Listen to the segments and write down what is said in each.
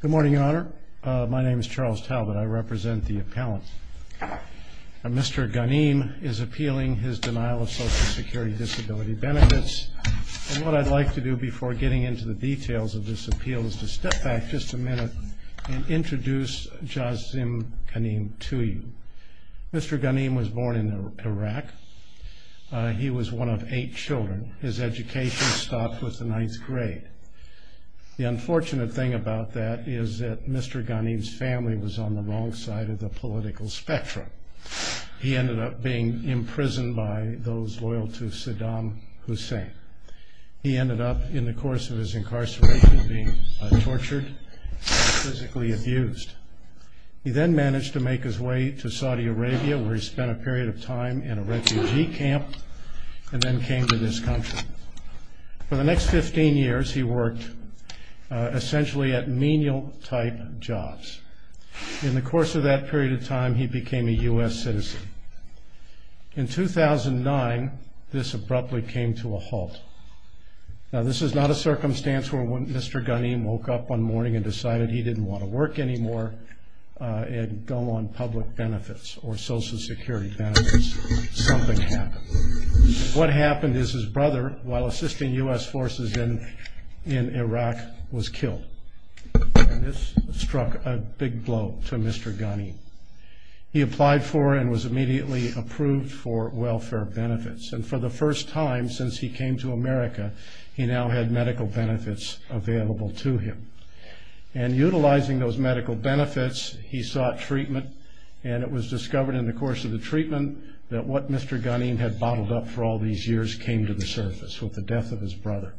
Good morning, Your Honor. My name is Charles Talbot. I represent the appellant. Mr. Ghanim is appealing his denial of Social Security disability benefits, and what I'd like to do before getting into the details of this appeal is to step back just a minute and introduce Jazim Ghanim to you. Mr. Ghanim was born in Iraq. He was one of eight children. His education stopped with the ninth grade. The unfortunate thing about that is that Mr. Ghanim's family was on the wrong side of the political spectrum. He ended up being imprisoned by those loyal to Saddam Hussein. He ended up, in the course of his incarceration, being tortured and physically abused. He then managed to make his way to Saudi Arabia, where he spent a period of time in a refugee camp, and then came to this country. For the next 15 years, he worked essentially at menial-type jobs. In the course of that period of time, he became a U.S. citizen. In 2009, this abruptly came to a halt. Now, this is not a circumstance where Mr. Ghanim woke up one morning and decided he didn't want to work anymore and go on public benefits or Social Security benefits. Something happened. What happened is his brother, while assisting U.S. forces in Iraq, was killed. This struck a big blow to Mr. Ghanim. He applied for and was immediately approved for welfare benefits. For the first time since he came to America, he now had medical benefits available to him. Utilizing those medical benefits, he sought treatment. It was discovered in the course of the treatment that what Mr. Ghanim had bottled up for all these years came to the surface, with the death of his brother.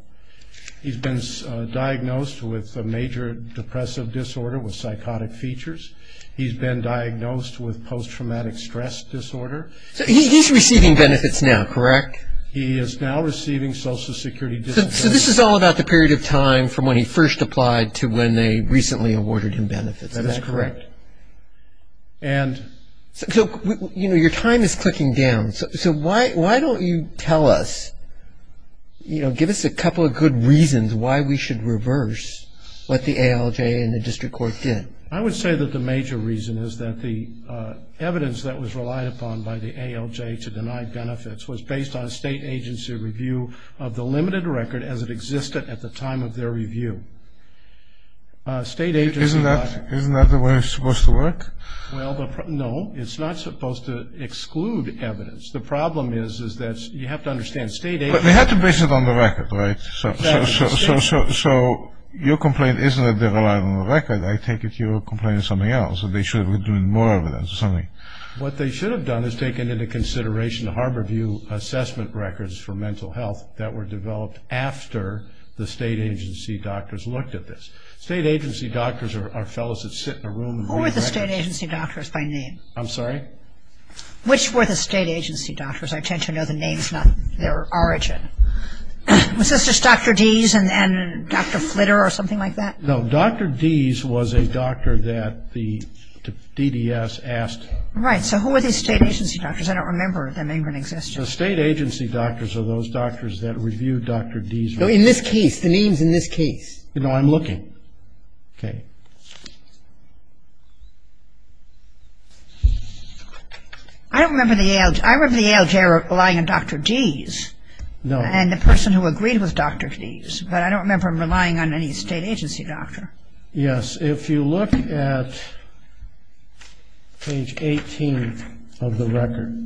He's been diagnosed with a major depressive disorder with psychotic features. He's been diagnosed with post-traumatic stress disorder. So he's receiving benefits now, correct? He is now receiving Social Security benefits. So this is all about the period of time from when he first applied to when they recently awarded him benefits, is that correct? That is correct. So, you know, your time is clicking down. So why don't you tell us, you know, give us a couple of good reasons why we should reverse what the ALJ and the district court did. I would say that the major reason is that the evidence that was relied upon by the ALJ to deny benefits was based on state agency review of the limited record as it existed at the time of their review. Isn't that the way it's supposed to work? Well, no, it's not supposed to exclude evidence. The problem is that you have to understand state agency... But they had to base it on the record, right? So your complaint isn't that they relied on the record. I take it you're complaining of something else, that they should have been doing more evidence or something. What they should have done is taken into consideration the Harborview assessment records for mental health that were developed after the state agency doctors looked at this. State agency doctors are fellows that sit in a room... Who were the state agency doctors by name? I'm sorry? Which were the state agency doctors? I tend to know the names, not their origin. Was this just Dr. Deese and Dr. Flitter or something like that? No, Dr. Deese was a doctor that the DDS asked... Right, so who were these state agency doctors? I don't remember them even existing. So state agency doctors are those doctors that reviewed Dr. Deese records. In this case, the names in this case. No, I'm looking. I remember the ALJ relying on Dr. Deese and the person who agreed with Dr. Deese, but I don't remember them relying on any state agency doctor. Yes, if you look at page 18 of the record,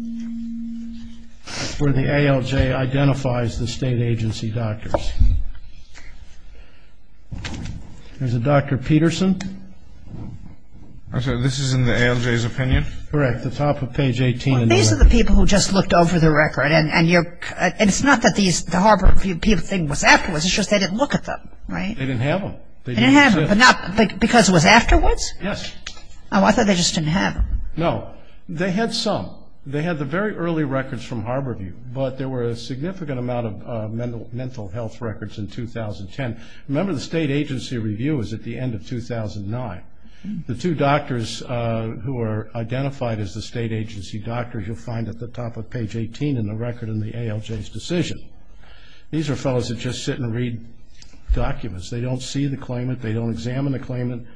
that's where the ALJ identifies the state agency doctors. There's a Dr. Peterson. I'm sorry, this is in the ALJ's opinion? Correct, the top of page 18. These are the people who just looked over the record, and it's not that the Harborview thing was afterwards, it's just they didn't look at them, right? They didn't have them. They had the very early records from Harborview, but there were a significant amount of mental health records in 2010. Remember, the state agency review was at the end of 2009. The two doctors who are identified as the state agency doctors you'll find at the top of page 18 in the record in the ALJ's decision. These are fellows that just sit and read documents. They don't see the claimant. They don't examine the claimant.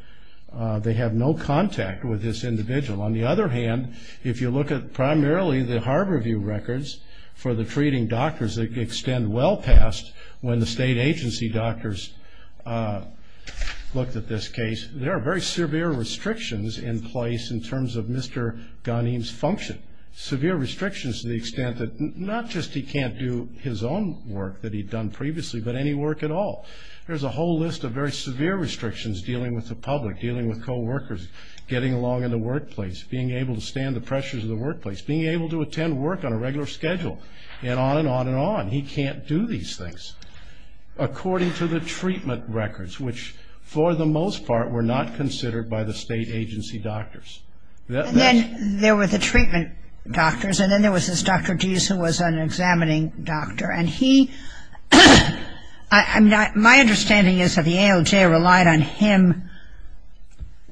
They have no contact with this individual. On the other hand, if you look at primarily the Harborview records for the treating doctors that extend well past when the state agency doctors looked at this case, there are very severe restrictions in place in terms of Mr. Ghanim's function, severe restrictions to the extent that not just he can't do his own work that he'd done previously, but any work at all. There's a whole list of very severe restrictions dealing with the public, dealing with coworkers, getting along in the workplace, being able to stand the pressures of the workplace, being able to attend work on a regular schedule, and on and on and on. He can't do these things according to the treatment records, which for the most part were not considered by the state agency doctors. And then there were the treatment doctors, and then there was this Dr. Deese who was an examining doctor. And he, my understanding is that the ALJ relied on him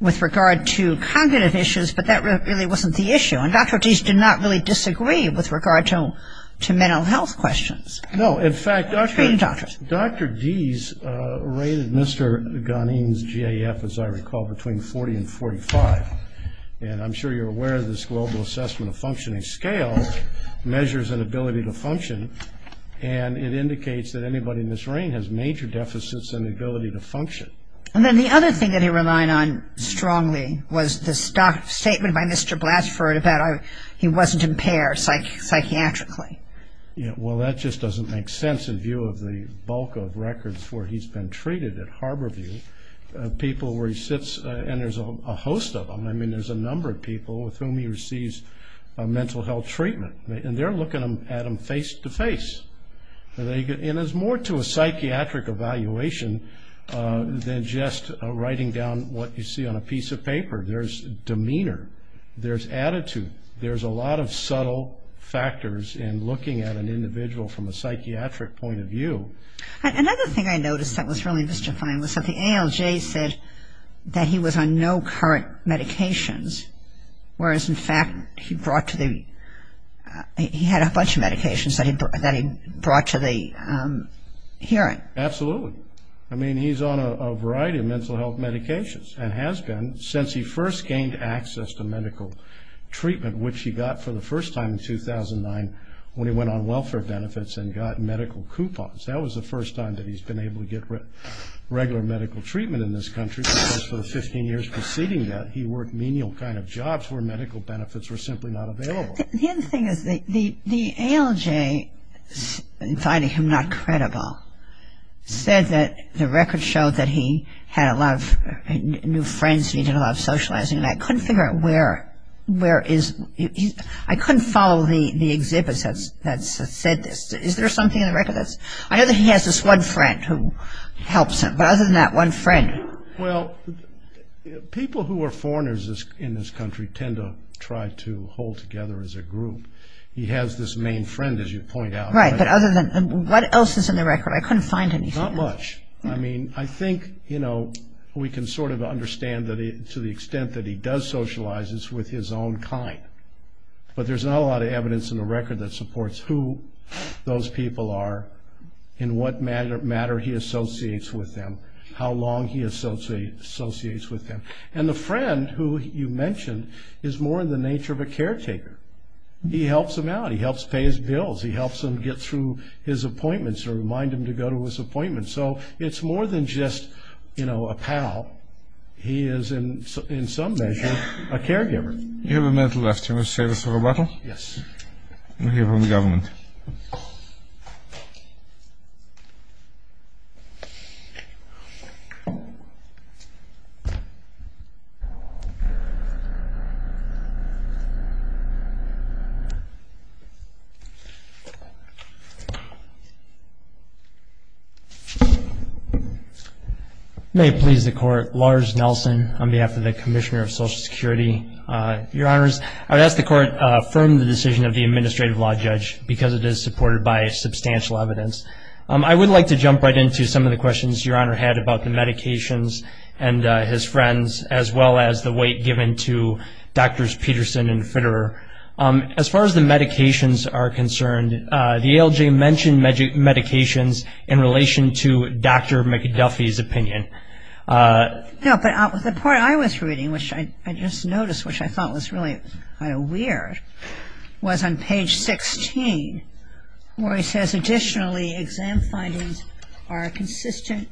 with regard to cognitive issues, but that really wasn't the issue. And Dr. Deese did not really disagree with regard to mental health questions. No, in fact, Dr. Deese rated Mr. Ghanim's GAF, as I recall, between 40 and 45, and I'm sure you're aware of this global assessment of functioning scale measures and ability to function, and it indicates that anybody in this ring has major deficits in the ability to function. And then the other thing that he relied on strongly was the statement by Mr. Blatchford about he wasn't impaired psychiatrically. Well, that just doesn't make sense in view of the bulk of records where he's been treated at Harborview, people where he sits, and there's a host of them. I mean, there's a number of people with whom he receives mental health treatment, and they're looking at him face to face. And it's more to a psychiatric evaluation than just writing down what you see on a piece of paper. There's demeanor. There's attitude. There's a lot of subtle factors in looking at an individual from a psychiatric point of view. Another thing I noticed that was really misdefined was that the ALJ said that he was on no current medications, whereas, in fact, he had a bunch of medications that he brought to the hearing. Absolutely. I mean, he's on a variety of mental health medications and has been since he first gained access to medical treatment, which he got for the first time in 2009 when he went on welfare benefits and got medical coupons. That was the first time that he's been able to get regular medical treatment in this country because for the 15 years preceding that, he worked menial kind of jobs where medical benefits were simply not available. The other thing is the ALJ, finding him not credible, said that the records showed that he had a lot of new friends and he did a lot of socializing, and I couldn't figure out where is he. I couldn't follow the exhibits that said this. I know that he has this one friend who helps him, but other than that, one friend. Well, people who are foreigners in this country tend to try to hold together as a group. He has this main friend, as you point out. Right, but what else is in the record? I couldn't find anything. Not much. I think we can sort of understand to the extent that he does socialize, it's with his own kind. But there's not a lot of evidence in the record that supports who those people are, in what manner he associates with them, how long he associates with them. And the friend who you mentioned is more in the nature of a caretaker. He helps him out. He helps pay his bills. He helps him get through his appointments or remind him to go to his appointments. So it's more than just a pal. He is, in some measure, a caregiver. You have a minute left. You want to save us a little? Yes. May it please the Court. Lars Nelson on behalf of the Commissioner of Social Security. Your Honors, I would ask the Court to affirm the decision of the Administrative Law Judge because it is supported by substantial evidence. I would like to jump right into some of the questions Your Honor had about the medications and his friends, as well as the weight given to Drs. Peterson and Fitterer. As far as the medications are concerned, the ALJ mentioned medications in relation to Dr. McDuffie's opinion. No, but the part I was reading, which I just noticed, which I thought was really kind of weird, was on page 16 where he says, traditionally exam findings are inconsistent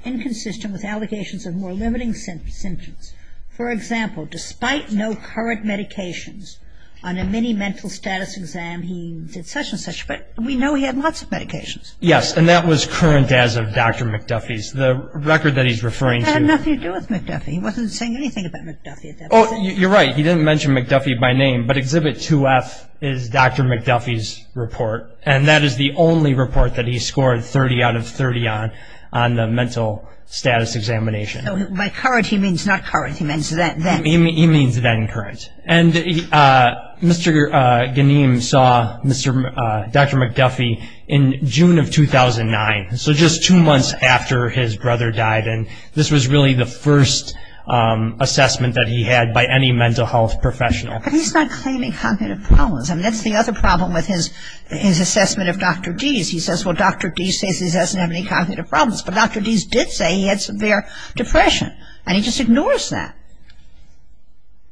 with allegations of more limiting symptoms. For example, despite no current medications on a mini mental status exam, he did such and such. But we know he had lots of medications. Yes, and that was current as of Dr. McDuffie's. I had nothing to do with McDuffie. He wasn't saying anything about McDuffie at that point. You're right. He didn't mention McDuffie by name, but Exhibit 2F is Dr. McDuffie's report, and that is the only report that he scored 30 out of 30 on on the mental status examination. By current he means not current. He means then. He means then current. And Mr. Ganeem saw Dr. McDuffie in June of 2009, so just two months after his brother died, and this was really the first assessment that he had by any mental health professional. But he's not claiming cognitive problems. I mean, that's the other problem with his assessment of Dr. Deese. He says, well, Dr. Deese says he doesn't have any cognitive problems, but Dr. Deese did say he had severe depression, and he just ignores that.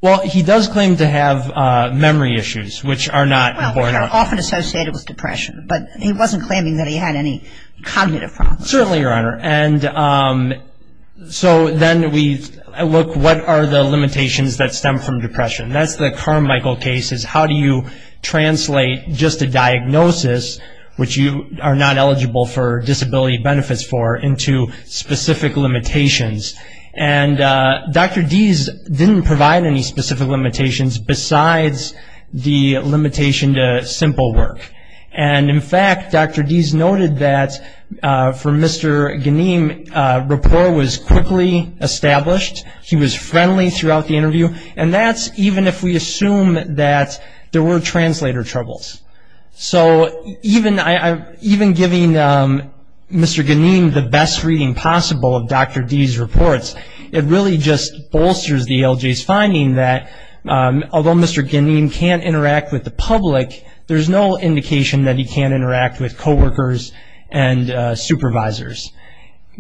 Well, he does claim to have memory issues, which are not important. Well, they're often associated with depression, but he wasn't claiming that he had any cognitive problems. Certainly, Your Honor. And so then we look, what are the limitations that stem from depression? That's the Carmichael case, is how do you translate just a diagnosis, which you are not eligible for disability benefits for, into specific limitations? And Dr. Deese didn't provide any specific limitations besides the limitation to simple work. And in fact, Dr. Deese noted that for Mr. Ganeem, rapport was quickly established. He was friendly throughout the interview, and that's even if we assume that there were translator troubles. So even giving Mr. Ganeem the best reading possible of Dr. Deese's reports, it really just bolsters the ALJ's finding that although Mr. Ganeem can't interact with the public, there's no indication that he can't interact with coworkers and supervisors.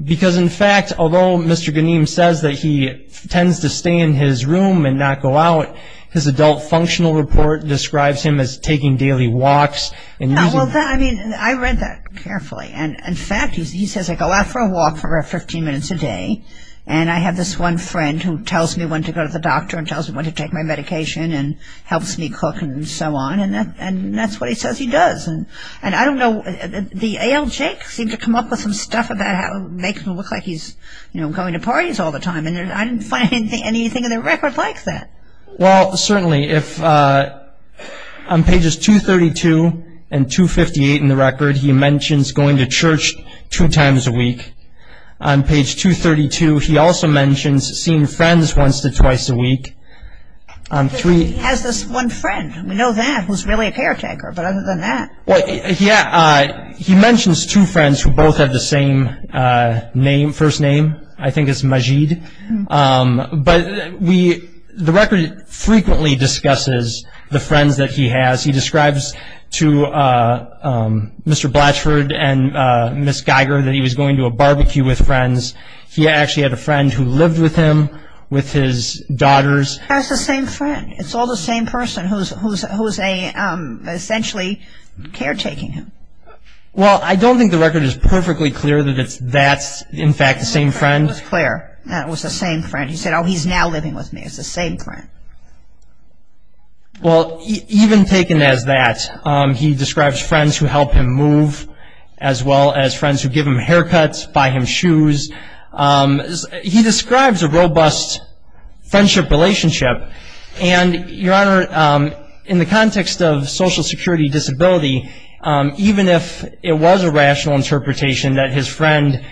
Because in fact, although Mr. Ganeem says that he tends to stay in his room and not go out, his adult functional report describes him as taking daily walks. Well, I mean, I read that carefully, and in fact, he says I go out for a walk for 15 minutes a day, and I have this one friend who tells me when to go to the doctor and tells me when to take my medication and helps me cook and so on, and that's what he says he does. And I don't know, the ALJ seemed to come up with some stuff about making him look like he's going to parties all the time, and I didn't find anything in the record like that. Well, certainly, on pages 232 and 258 in the record, he mentions going to church two times a week. On page 232, he also mentions seeing friends once to twice a week. He has this one friend, we know that, who's really a caretaker, but other than that. Yeah, he mentions two friends who both have the same first name. I think it's Majid. But the record frequently discusses the friends that he has. He describes to Mr. Blatchford and Ms. Geiger that he was going to a barbecue with friends. He actually had a friend who lived with him, with his daughters. That's the same friend. It's all the same person who's essentially caretaking him. Well, I don't think the record is perfectly clear that that's, in fact, the same friend. It was clear that it was the same friend. He said, oh, he's now living with me. It's the same friend. Well, even taken as that, he describes friends who help him move, as well as friends who give him haircuts, buy him shoes. He describes a robust friendship relationship. And, Your Honor, in the context of social security disability, even if it was a rational interpretation that his friend,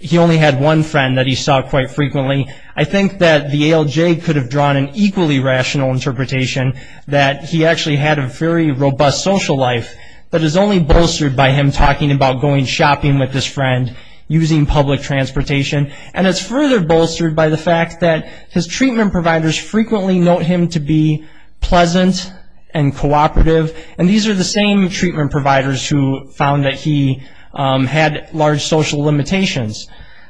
he only had one friend that he saw quite frequently, I think that the ALJ could have drawn an equally rational interpretation that he actually had a very robust social life, but is only bolstered by him talking about going shopping with his friend, using public transportation. And it's further bolstered by the fact that his treatment providers frequently note him to be pleasant and cooperative, and these are the same treatment providers who found that he had large social limitations.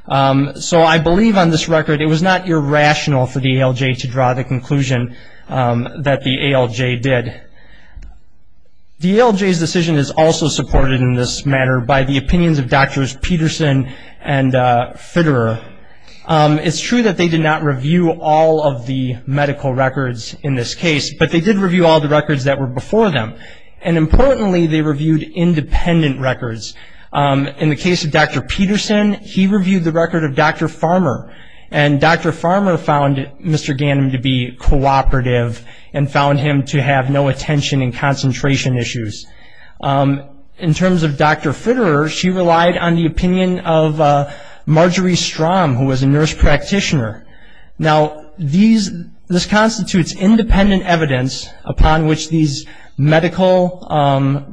So I believe on this record it was not irrational for the ALJ to draw the conclusion that the ALJ did. The ALJ's decision is also supported in this matter by the opinions of Doctors Peterson and Fitterer. It's true that they did not review all of the medical records in this case, but they did review all the records that were before them. And importantly, they reviewed independent records. In the case of Dr. Peterson, he reviewed the record of Dr. Farmer, and Dr. Farmer found Mr. Ganim to be cooperative and found him to have no attention and concentration issues. In terms of Dr. Fitterer, she relied on the opinion of Marjorie Strom, who was a nurse practitioner. Now, this constitutes independent evidence upon which these medical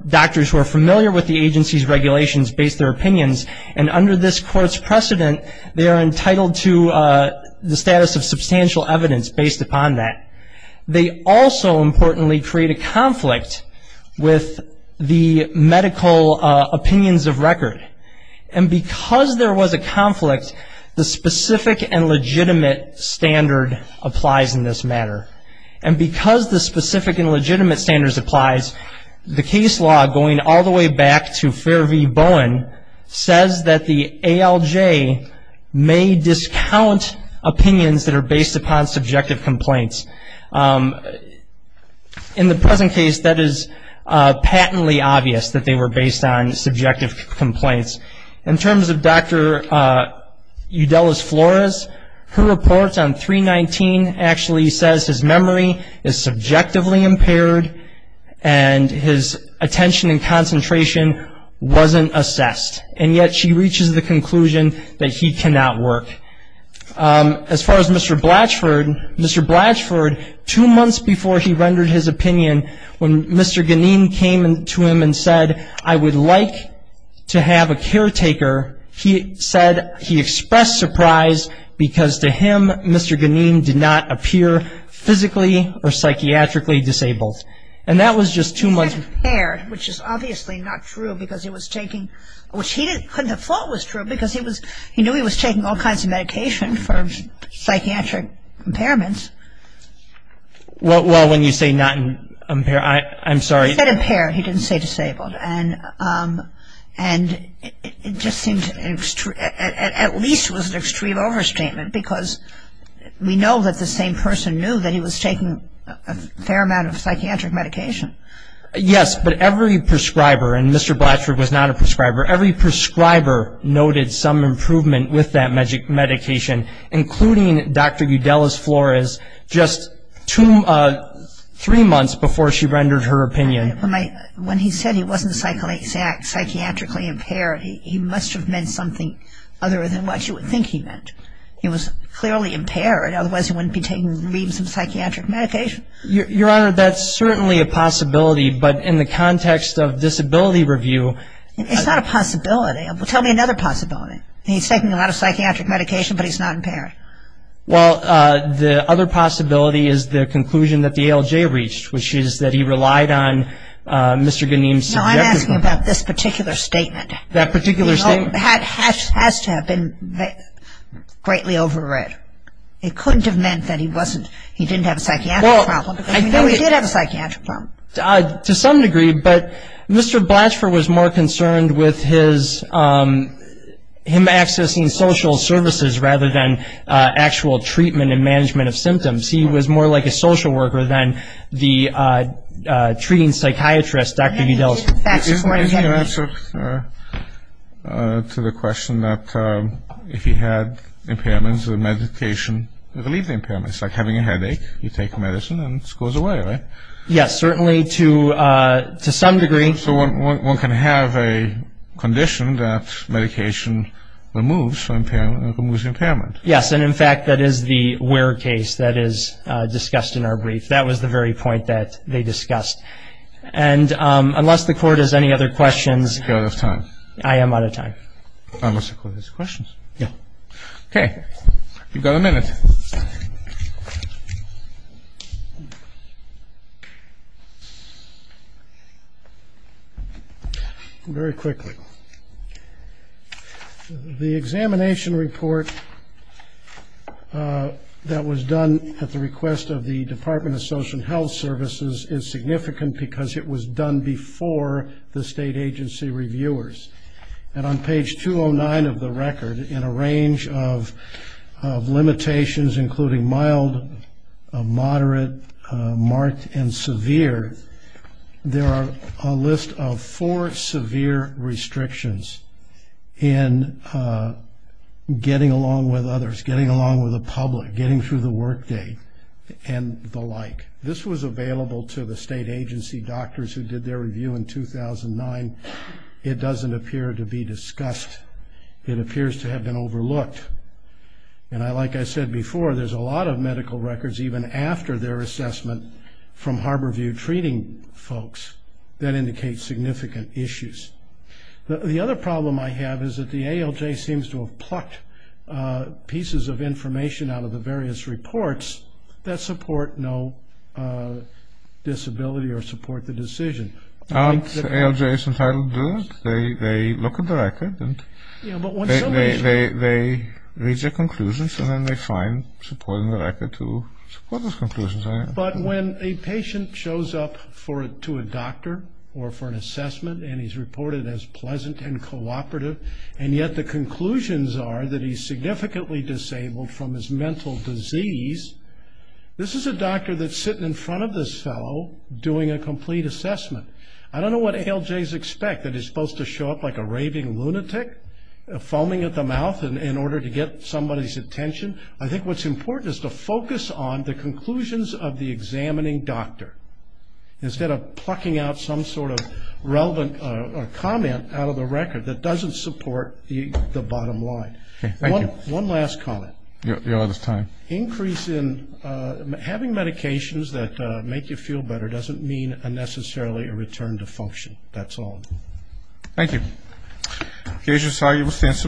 doctors who are familiar with the agency's regulations base their opinions, and under this court's precedent, they are entitled to the status of substantial evidence based upon that. They also, importantly, create a conflict with the medical opinions of record. And because there was a conflict, the specific and legitimate standard applies in this matter. And because the specific and legitimate standards applies, the case law, going all the way back to Fair v. Bowen, says that the ALJ may discount opinions that are based upon subjective complaints. In the present case, that is patently obvious that they were based on subjective complaints. In terms of Dr. Eudelis Flores, her report on 319 actually says his memory is subjectively impaired, and his attention and concentration wasn't assessed. And yet she reaches the conclusion that he cannot work. As far as Mr. Blatchford, Mr. Blatchford, two months before he rendered his opinion, when Mr. Ganeen came to him and said, I would like to have a caretaker, he said he expressed surprise because to him Mr. Ganeen did not appear physically or psychiatrically disabled. He said impaired, which is obviously not true because he was taking, which he didn't, couldn't have thought was true because he was, he knew he was taking all kinds of medication for psychiatric impairments. Well, when you say not impaired, I'm sorry. He said impaired, he didn't say disabled. And it just seemed, at least it was an extreme overstatement because we know that the same person knew that he was taking a fair amount of psychiatric medication. Yes, but every prescriber, and Mr. Blatchford was not a prescriber, every prescriber noted some improvement with that medication, including Dr. Eudelis Flores just three months before she rendered her opinion. When he said he wasn't psychiatrically impaired, he must have meant something other than what you would think he meant. He was clearly impaired, otherwise he wouldn't be taking reams of psychiatric medication. Your Honor, that's certainly a possibility, but in the context of disability review. It's not a possibility. Tell me another possibility. He's taking a lot of psychiatric medication, but he's not impaired. Well, the other possibility is the conclusion that the ALJ reached, which is that he relied on Mr. Ganeem's subjective. No, I'm asking about this particular statement. That particular statement. It has to have been greatly overread. It couldn't have meant that he didn't have a psychiatric problem, even though he did have a psychiatric problem. To some degree, but Mr. Blatchford was more concerned with him accessing social services rather than actual treatment and management of symptoms. He was more like a social worker than the treating psychiatrist, Dr. Eudelis. Isn't the answer to the question that if he had impairments, the medication relieved the impairments? It's like having a headache. You take medicine and it goes away, right? Yes, certainly to some degree. So one can have a condition that medication removes the impairment. Yes, and in fact that is the where case that is discussed in our brief. That was the very point that they discussed. And unless the Court has any other questions. We're out of time. I am out of time. Unless the Court has questions. Yes. Okay. You've got a minute. Very quickly. The examination report that was done at the request of the Department of Social Health Services is significant because it was done before the state agency reviewers. And on page 209 of the record, in a range of limitations, including mild, moderate, marked, and severe, there are a list of four severe restrictions in getting along with others, getting along with the public, getting through the workday, and the like. This was available to the state agency doctors who did their review in 2009. It doesn't appear to be discussed. It appears to have been overlooked. And like I said before, there's a lot of medical records, even after their assessment, from Harborview treating folks that indicate significant issues. The other problem I have is that the ALJ seems to have plucked pieces of information out of the various reports that support no disability or support the decision. ALJ is entitled to do that. They look at the record and they reach their conclusions, and then they find support in the record to support those conclusions. But when a patient shows up to a doctor or for an assessment and he's reported as pleasant and cooperative, and yet the conclusions are that he's significantly disabled from his mental disease, this is a doctor that's sitting in front of this fellow doing a complete assessment. I don't know what ALJs expect, that he's supposed to show up like a raving lunatic, foaming at the mouth in order to get somebody's attention. I think what's important is to focus on the conclusions of the examining doctor instead of plucking out some sort of relevant comment out of the record that doesn't support the bottom line. Okay, thank you. One last comment. You're out of time. Increase in having medications that make you feel better doesn't mean necessarily a return to function. That's all. Thank you. Okay, I'm sorry, you will stand for a minute.